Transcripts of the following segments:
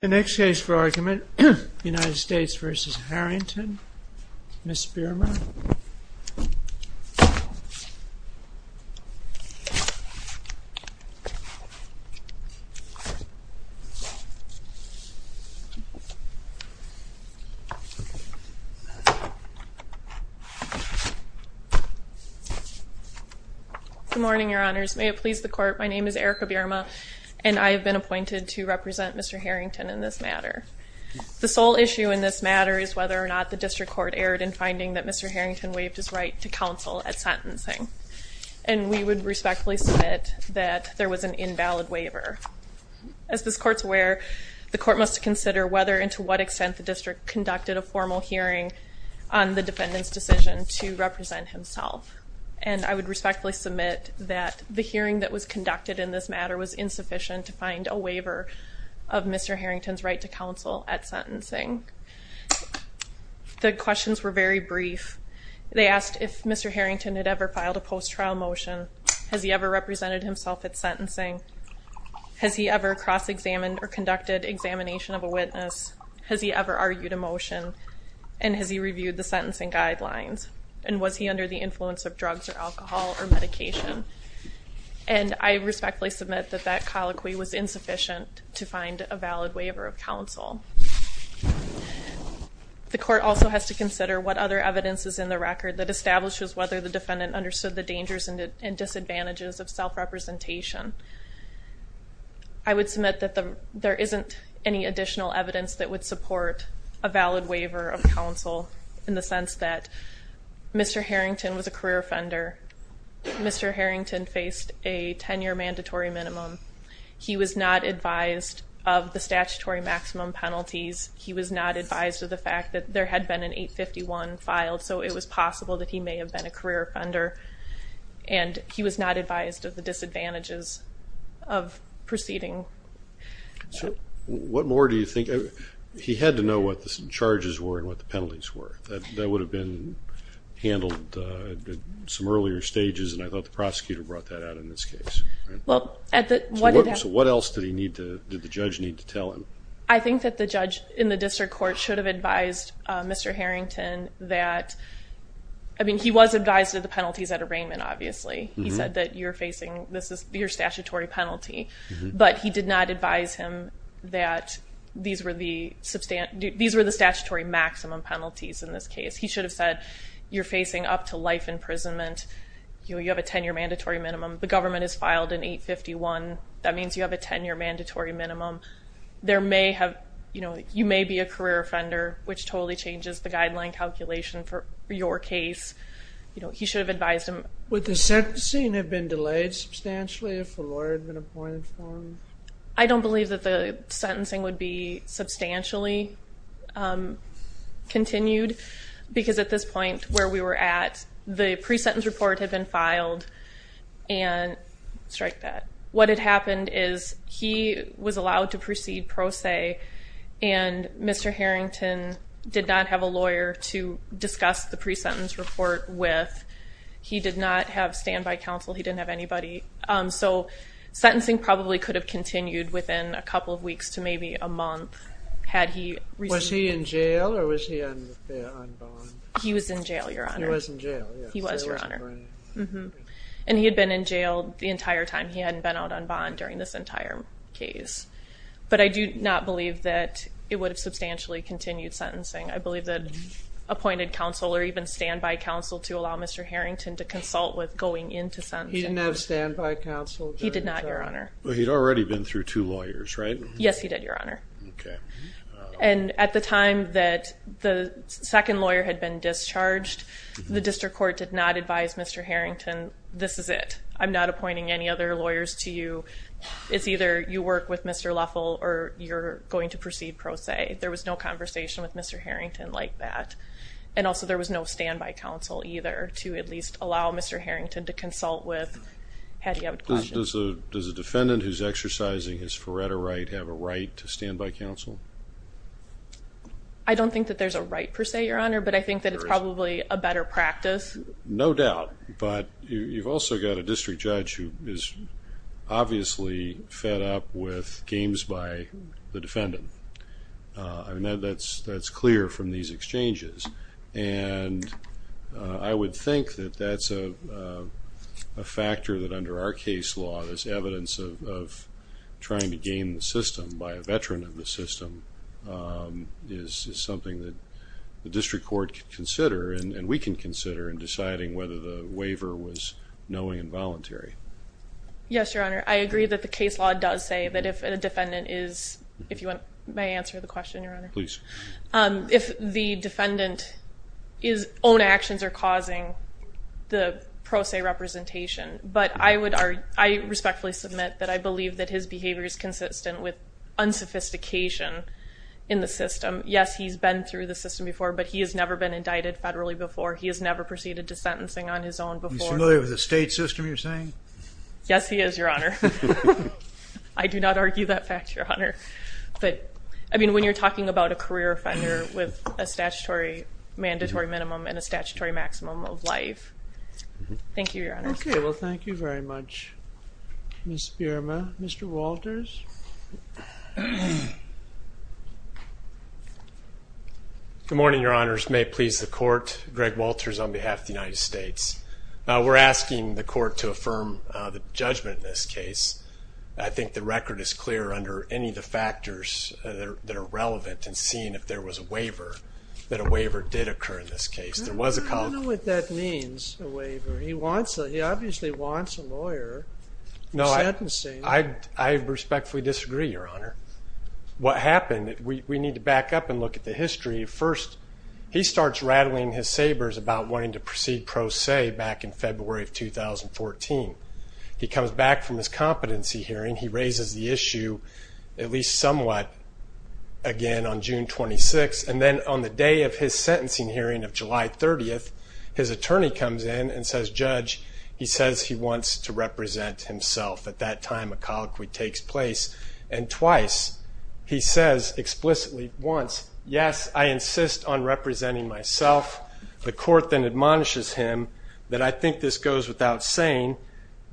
The next case for argument, United States v. Harrington, Ms. Bierma. Good morning, your honors. May it please the court, my name is Erica Bierma and I have been in this matter. The sole issue in this matter is whether or not the district court erred in finding that Mr. Harrington waived his right to counsel at sentencing. And we would respectfully submit that there was an invalid waiver. As this court's aware, the court must consider whether and to what extent the district conducted a formal hearing on the defendant's decision to represent himself. And I would respectfully submit that the hearing that was conducted in this matter was insufficient to find a waiver of Mr. Harrington's right to counsel at sentencing. The questions were very brief. They asked if Mr. Harrington had ever filed a post-trial motion. Has he ever represented himself at sentencing? Has he ever cross-examined or conducted examination of a witness? Has he ever argued a motion? And has he reviewed the sentencing guidelines? And was he under the influence of drugs or alcohol or medication? And I respectfully submit that that colloquy was insufficient to find a valid waiver of counsel. The court also has to consider what other evidence is in the record that establishes whether the defendant understood the dangers and disadvantages of self-representation. I would submit that there isn't any additional evidence that would support a valid waiver of counsel in the sense that Mr. Harrington was a career offender. Mr. Harrington faced a 10-year mandatory minimum. He was not advised of the statutory maximum penalties. He was not advised of the fact that there had been an 851 filed, so it was possible that he may have been a career offender. And he was not advised of the disadvantages of proceeding. What more do you think? He had to know what the charges were and what the penalties were. That would have been handled at some earlier stages, and I thought the prosecutor brought that out in this case. So what else did the judge need to tell him? I think that the judge in the district court should have advised Mr. Harrington that... I mean, he was advised of the penalties at arraignment, obviously. He said that you're facing your statutory penalty, but he did not advise him that these were the statutory maximum penalties in this case. He should have said, you're facing up to life imprisonment. You have a 10-year mandatory minimum. The government has filed an 851. That means you have a 10-year mandatory minimum. You may be a career offender, which totally changes the guideline calculation for your case. He should have advised him. Would the sentencing have been delayed substantially if a lawyer had been appointed for him? I don't believe that the sentencing would be substantially continued, because at this point where we were at, the pre-sentence report had been filed, and strike that. What had happened is he was allowed to proceed pro se, and Mr. Harrington did not have a lawyer to discuss the pre-sentence report with. He did not have standby counsel. He didn't have anybody. So sentencing probably could have continued within a couple of weeks to maybe a month had he received... Was he in jail or was he on bond? He was in jail, Your Honor. He was in jail, yes. He was, Your Honor. And he had been in jail the entire time. He hadn't been out on bond during this entire case. But I do not believe that it would have substantially continued sentencing. I believe that appointed counsel or even standby counsel to allow Mr. Harrington to consult with going into sentencing. He didn't have standby counsel during the time? He did not, Your Honor. But he'd already been through two lawyers, right? Yes, he did, Your Honor. Okay. And at the time that the second lawyer had been discharged, the district court did not advise Mr. Harrington, this is it. I'm not appointing any other lawyers to you. It's either you work with Mr. Leffel or you're going to proceed pro se. There was no conversation with Mr. Harrington like that. And also there was no standby counsel either to at least allow Mr. Harrington to consult with had he had questions. Does a defendant who's exercising his Faretta right have a right to standby counsel? I don't think that there's a right per se, Your Honor, but I think that it's probably a better practice. No doubt. But you've also got a district judge who is obviously fed up with games by the defendant. That's clear from these exchanges. And I would think that that's a factor that under our case law, this evidence of trying to game the system by a veteran of the system, is something that the district court could consider, and we can consider in deciding whether the waiver was knowing and voluntary. Yes, Your Honor. I agree that the case law does say that if a defendant is, if you may answer the question, Your Honor. Please. If the defendant's own actions are causing the pro se representation, but I respectfully submit that I believe that his behavior is consistent with unsophistication in the system. Yes, he's been through the system before, but he has never been indicted federally before. He has never proceeded to sentencing on his own before. He's familiar with the state system, you're saying? Yes, he is, Your Honor. I do not argue that fact, Your Honor. But, I mean, when you're talking about a career offender with a statutory, mandatory minimum and a statutory maximum of life. Thank you, Your Honor. Okay. Well, thank you very much, Ms. Bierma. Mr. Walters? Good morning, Your Honors. May it please the Court. Greg Walters on behalf of the United States. We're asking the Court to affirm the judgment in this case. I think the record is clear under any of the factors that are relevant in seeing if there was a waiver, that a waiver did occur in this case. There was a call. I don't know what that means, a waiver. He obviously wants a lawyer in sentencing. No, I respectfully disagree, Your Honor. What happened, we need to back up and look at the history. First, he starts rattling his sabers about wanting to proceed pro se back in February of 2014. He comes back from his competency hearing. He raises the issue at least somewhat again on June 26th. And then on the day of his sentencing hearing of July 30th, his attorney comes in and says, he wants to represent himself. At that time, a colloquy takes place. And twice, he says explicitly once, yes, I insist on representing myself. The Court then admonishes him that I think this goes without saying,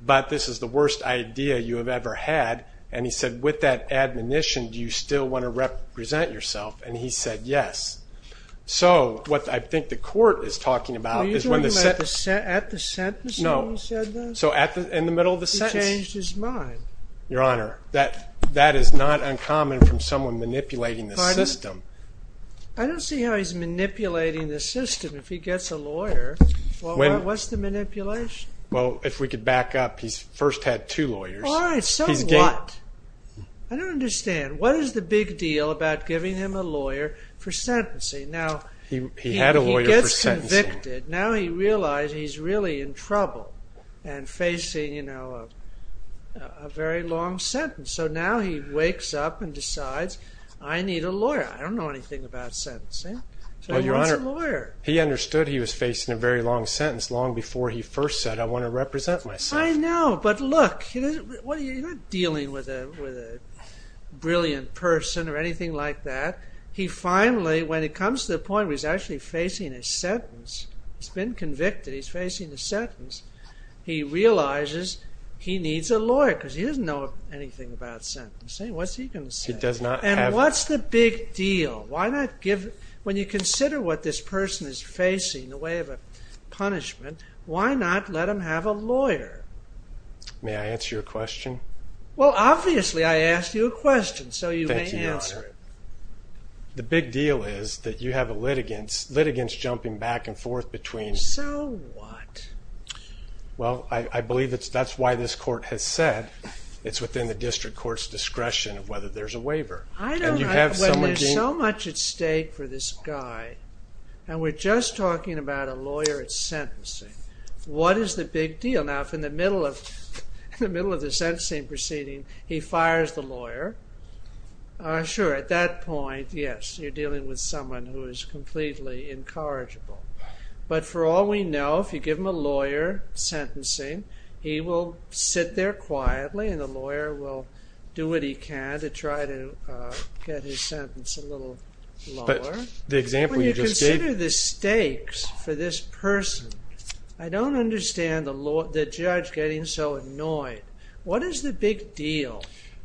but this is the worst idea you have ever had. And he said, with that admonition, do you still want to represent yourself? And he said, yes. So what I think the Court is talking about is when the sentence. No. So in the middle of the sentence? He changed his mind. Your Honor, that is not uncommon from someone manipulating the system. I don't see how he's manipulating the system if he gets a lawyer. What's the manipulation? Well, if we could back up, he first had two lawyers. All right, so what? I don't understand. What is the big deal about giving him a lawyer for sentencing? He had a lawyer for sentencing. Now he realized he's really in trouble and facing a very long sentence. So now he wakes up and decides, I need a lawyer. I don't know anything about sentencing. So he wants a lawyer. He understood he was facing a very long sentence long before he first said, I want to represent myself. I know, but look, you're not dealing with a brilliant person or anything like that. He finally, when it comes to the point where he's actually facing a sentence, he's been convicted, he's facing a sentence, he realizes he needs a lawyer because he doesn't know anything about sentencing. What's he going to say? He does not have... And what's the big deal? When you consider what this person is facing in the way of a punishment, why not let him have a lawyer? May I answer your question? Well, obviously I asked you a question, so you may answer it. The big deal is that you have litigants jumping back and forth between... So what? Well, I believe that's why this court has said it's within the district court's discretion of whether there's a waiver. I don't know. When there's so much at stake for this guy and we're just talking about a lawyer at sentencing, what is the big deal? Now, if in the middle of the sentencing proceeding he fires the lawyer, sure, at that point, yes, you're dealing with someone who is completely incorrigible. But for all we know, if you give him a lawyer sentencing, he will sit there quietly and the lawyer will do what he can to try to get his sentence a little lower. But the example you just gave... When you consider the stakes for this person, I don't understand the judge getting so annoyed. What is the big deal?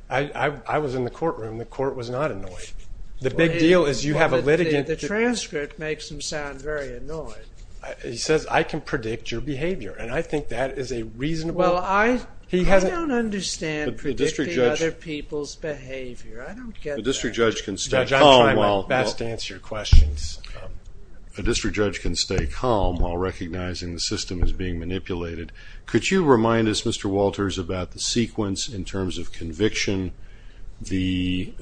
I was in the courtroom. The court was not annoyed. The big deal is you have a litigant... The transcript makes him sound very annoyed. He says, I can predict your behavior, and I think that is a reasonable... Well, I don't understand predicting other people's behavior. Judge, I'm trying my best to answer your questions. A district judge can stay calm while recognizing the system is being manipulated. Could you remind us, Mr. Walters, about the sequence in terms of conviction, the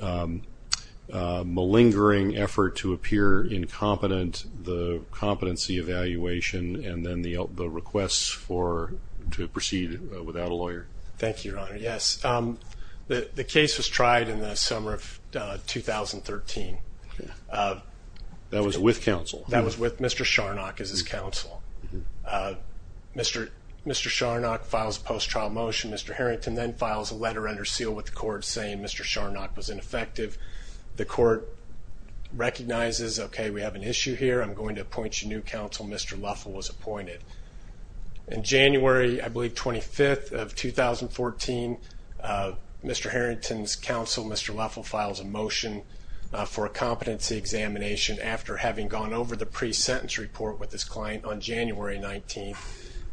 malingering effort to appear incompetent, the competency evaluation, and then the request to proceed without a lawyer? Thank you, Your Honor. Yes. The case was tried in the summer of 2013. That was with counsel? That was with Mr. Sharnock as his counsel. Mr. Sharnock files a post-trial motion. Mr. Harrington then files a letter under seal with the court saying Mr. Sharnock was ineffective. The court recognizes, okay, we have an issue here. I'm going to appoint you new counsel. Mr. Luffell was appointed. In January, I believe, 25th of 2014, Mr. Harrington's counsel, Mr. Luffell, files a motion for a competency examination after having gone over the pre-sentence report with his client on January 19th,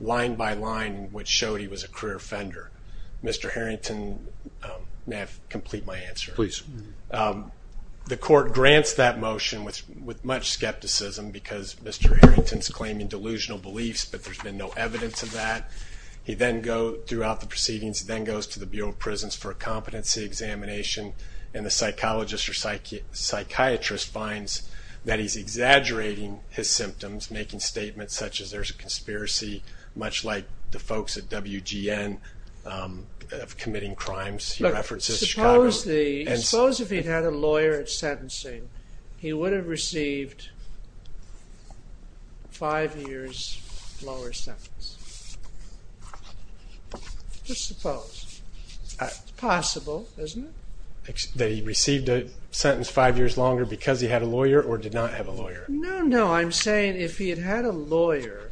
line by line, which showed he was a career offender. Mr. Harrington, may I complete my answer? Please. The court grants that motion with much skepticism because Mr. Harrington's claiming delusional beliefs, but there's been no evidence of that. He then goes, throughout the proceedings, then goes to the Bureau of Prisons for a competency examination, and the psychologist or psychiatrist finds that he's exaggerating his symptoms, making statements such as there's a conspiracy, much like the folks at WGN of committing crimes. Look, suppose if he'd had a lawyer at sentencing, he would have received five years lower sentence. Just suppose. It's possible, isn't it? That he received a sentence five years longer because he had a lawyer or did not have a lawyer? No, no. I'm saying if he had had a lawyer,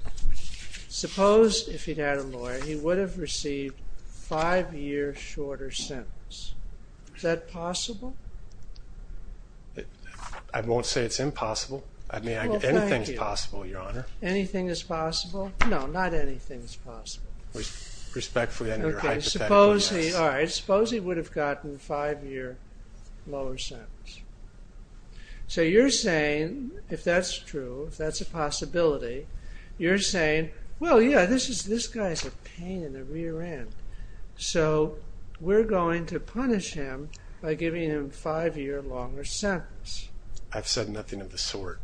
suppose if he'd had a lawyer, he would have received five years shorter sentence. Is that possible? I won't say it's impossible. I mean, anything's possible, Your Honor. Anything is possible? No, not anything's possible. Respectfully, I know you're hypothetical. All right, suppose he would have gotten five years lower sentence. So, you're saying, if that's true, if that's a possibility, you're saying, well, yeah, this guy's a pain in the rear end. So, we're going to punish him by giving him five years longer sentence. I've said nothing of the sort.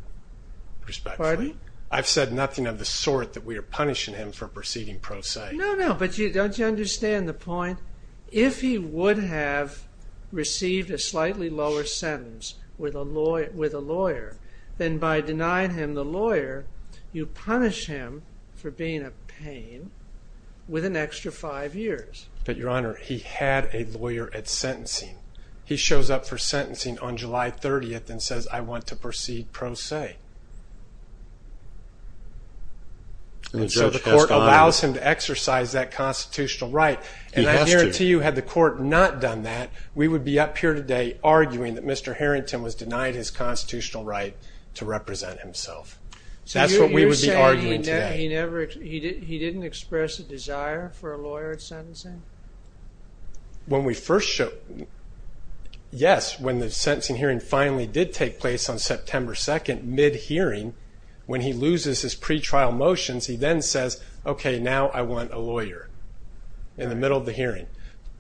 Pardon me? I've said nothing of the sort that we are punishing him for proceeding pro se. No, no. But don't you understand the point? If he would have received a slightly lower sentence with a lawyer, then by denying him the lawyer, you punish him for being a pain with an extra five years. He shows up for sentencing on July 30th and says, I want to proceed pro se. And so the court allows him to exercise that constitutional right. He has to. And I guarantee you, had the court not done that, we would be up here today arguing that Mr. Harrington was denied his constitutional right to represent himself. That's what we would be arguing today. So, you're saying he didn't express a desire for a lawyer at sentencing? When we first show, yes, when the sentencing hearing finally did take place on September 2nd, mid-hearing, when he loses his pretrial motions, he then says, okay, now I want a lawyer in the middle of the hearing.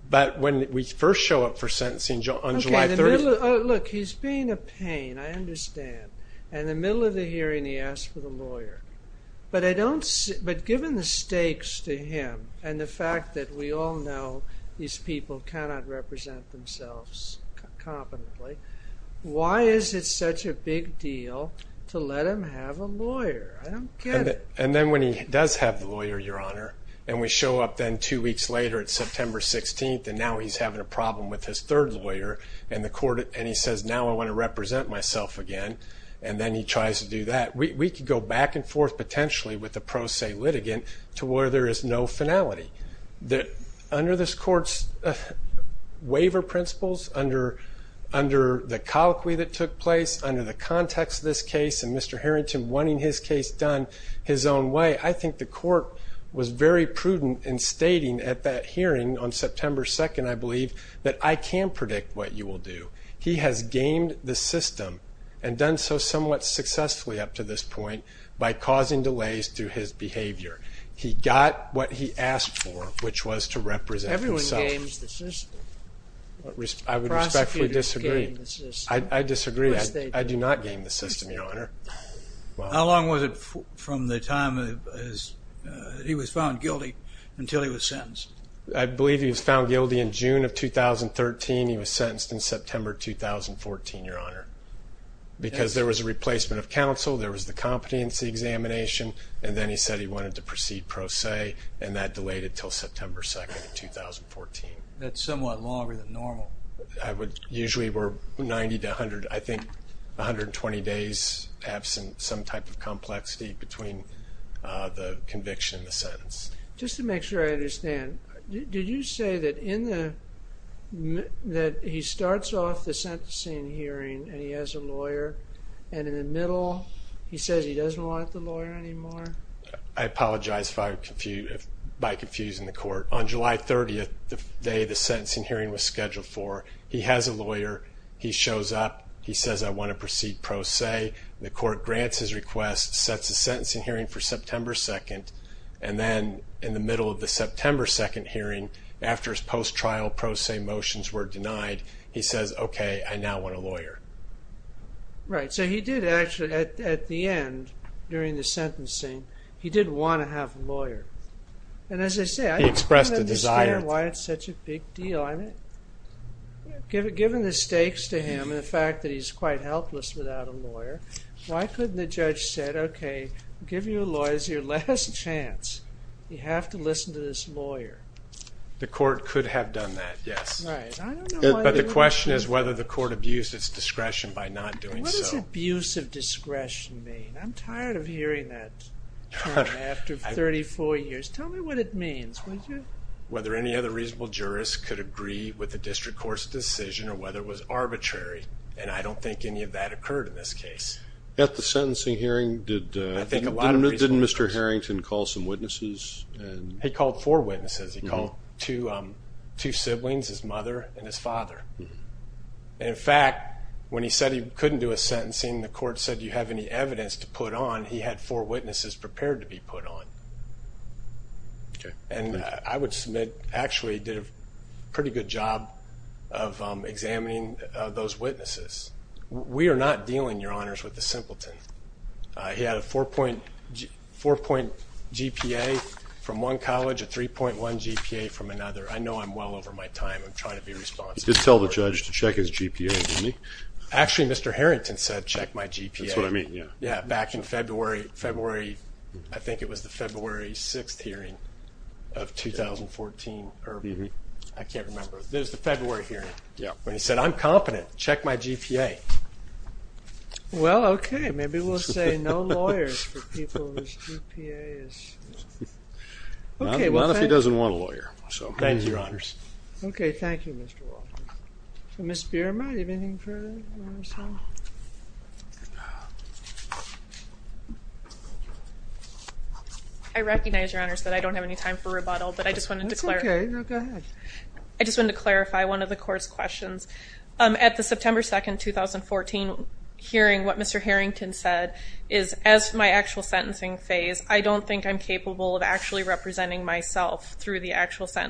But when we first show up for sentencing on July 30th. Look, he's being a pain. I understand. And in the middle of the hearing, he asks for the lawyer. But given the stakes to him and the fact that we all know these people cannot represent themselves competently, why is it such a big deal to let him have a lawyer? I don't get it. And then when he does have the lawyer, Your Honor, and we show up then two weeks later, it's September 16th, and now he's having a problem with his third lawyer. And he says, now I want to represent myself again. And then he tries to do that. We could go back and forth potentially with the pro se litigant to where there is no finality. Under this court's waiver principles, under the colloquy that took place, under the context of this case, and Mr. Harrington wanting his case done his own way, I think the court was very prudent in stating at that hearing on September 2nd, I believe, that I can predict what you will do. He has gamed the system and done so somewhat successfully up to this point by causing delays to his behavior. He got what he asked for, which was to represent himself. Everyone games the system. I would respectfully disagree. Prosecutors game the system. I disagree. Of course they do. I do not game the system, Your Honor. How long was it from the time he was found guilty until he was sentenced? I believe he was found guilty in June of 2013. He was sentenced in September 2014, Your Honor, because there was a replacement of counsel, there was the competency examination, and then he said he wanted to proceed pro se, and that delayed until September 2nd of 2014. That's somewhat longer than normal. Usually we're 90 to 100, I think 120 days absent, some type of complexity between the conviction and the sentence. Just to make sure I understand, did you say that he starts off the sentencing hearing and he has a lawyer, and in the middle he says he doesn't want the lawyer anymore? I apologize by confusing the court. On July 30th, the day the sentencing hearing was scheduled for, he has a lawyer. He shows up. He says, I want to proceed pro se. The court grants his request, sets a sentencing hearing for September 2nd, and then in the middle of the September 2nd hearing, after his post-trial pro se motions were denied, he says, okay, I now want a lawyer. Right. So he did actually, at the end, during the sentencing, he did want to have a lawyer. And as I say, I don't understand why it's such a big deal. Given the stakes to him and the fact that he's quite helpless without a lawyer, why couldn't the judge say, okay, I'll give you a lawyer. This is your last chance. You have to listen to this lawyer. The court could have done that, yes. Right. But the question is whether the court abused its discretion by not doing so. What does abuse of discretion mean? I'm tired of hearing that term after 34 years. Tell me what it means. Whether any other reasonable jurist could agree with the district court's decision or whether it was arbitrary, and I don't think any of that occurred in this case. At the sentencing hearing, didn't Mr. Harrington call some witnesses? He called four witnesses. He called two siblings, his mother and his father. In fact, when he said he couldn't do a sentencing, the court said do you have any evidence to put on, he had four witnesses prepared to be put on. Okay. And I would submit actually did a pretty good job of examining those witnesses. We are not dealing, Your Honors, with the simpleton. He had a four-point GPA from one college, a 3.1 GPA from another. I know I'm well over my time. I'm trying to be responsible. You did tell the judge to check his GPA, didn't you? Actually, Mr. Harrington said check my GPA. That's what I mean, yeah. Back in February, I think it was the February 6th hearing of 2014. I can't remember. It was the February hearing when he said I'm confident. Check my GPA. Well, okay. Maybe we'll say no lawyers for people whose GPA is… Not if he doesn't want a lawyer. Thank you, Your Honors. Okay. Thank you, Mr. Walker. Ms. Bierma, do you have anything to say? I recognize, Your Honors, that I don't have any time for rebuttal, but I just wanted to clarify. That's okay. Go ahead. I just wanted to clarify one of the court's questions. At the September 2nd, 2014 hearing, what Mr. Harrington said is, as my actual sentencing phase, I don't think I'm capable of actually representing myself through the actual So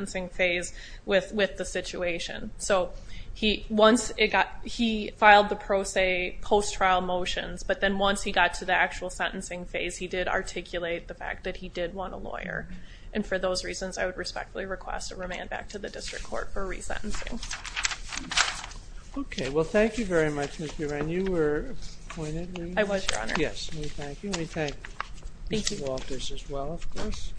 he filed the pro se post-trial motions, but then once he got to the actual sentencing phase, he did articulate the fact that he did want a lawyer. And for those reasons, I would respectfully request a remand back to the district court for resentencing. Okay. Well, thank you very much, Ms. Bierma. And you were appointed? I was, Your Honor. Yes. We thank you. We thank Mr. Walters as well, of course.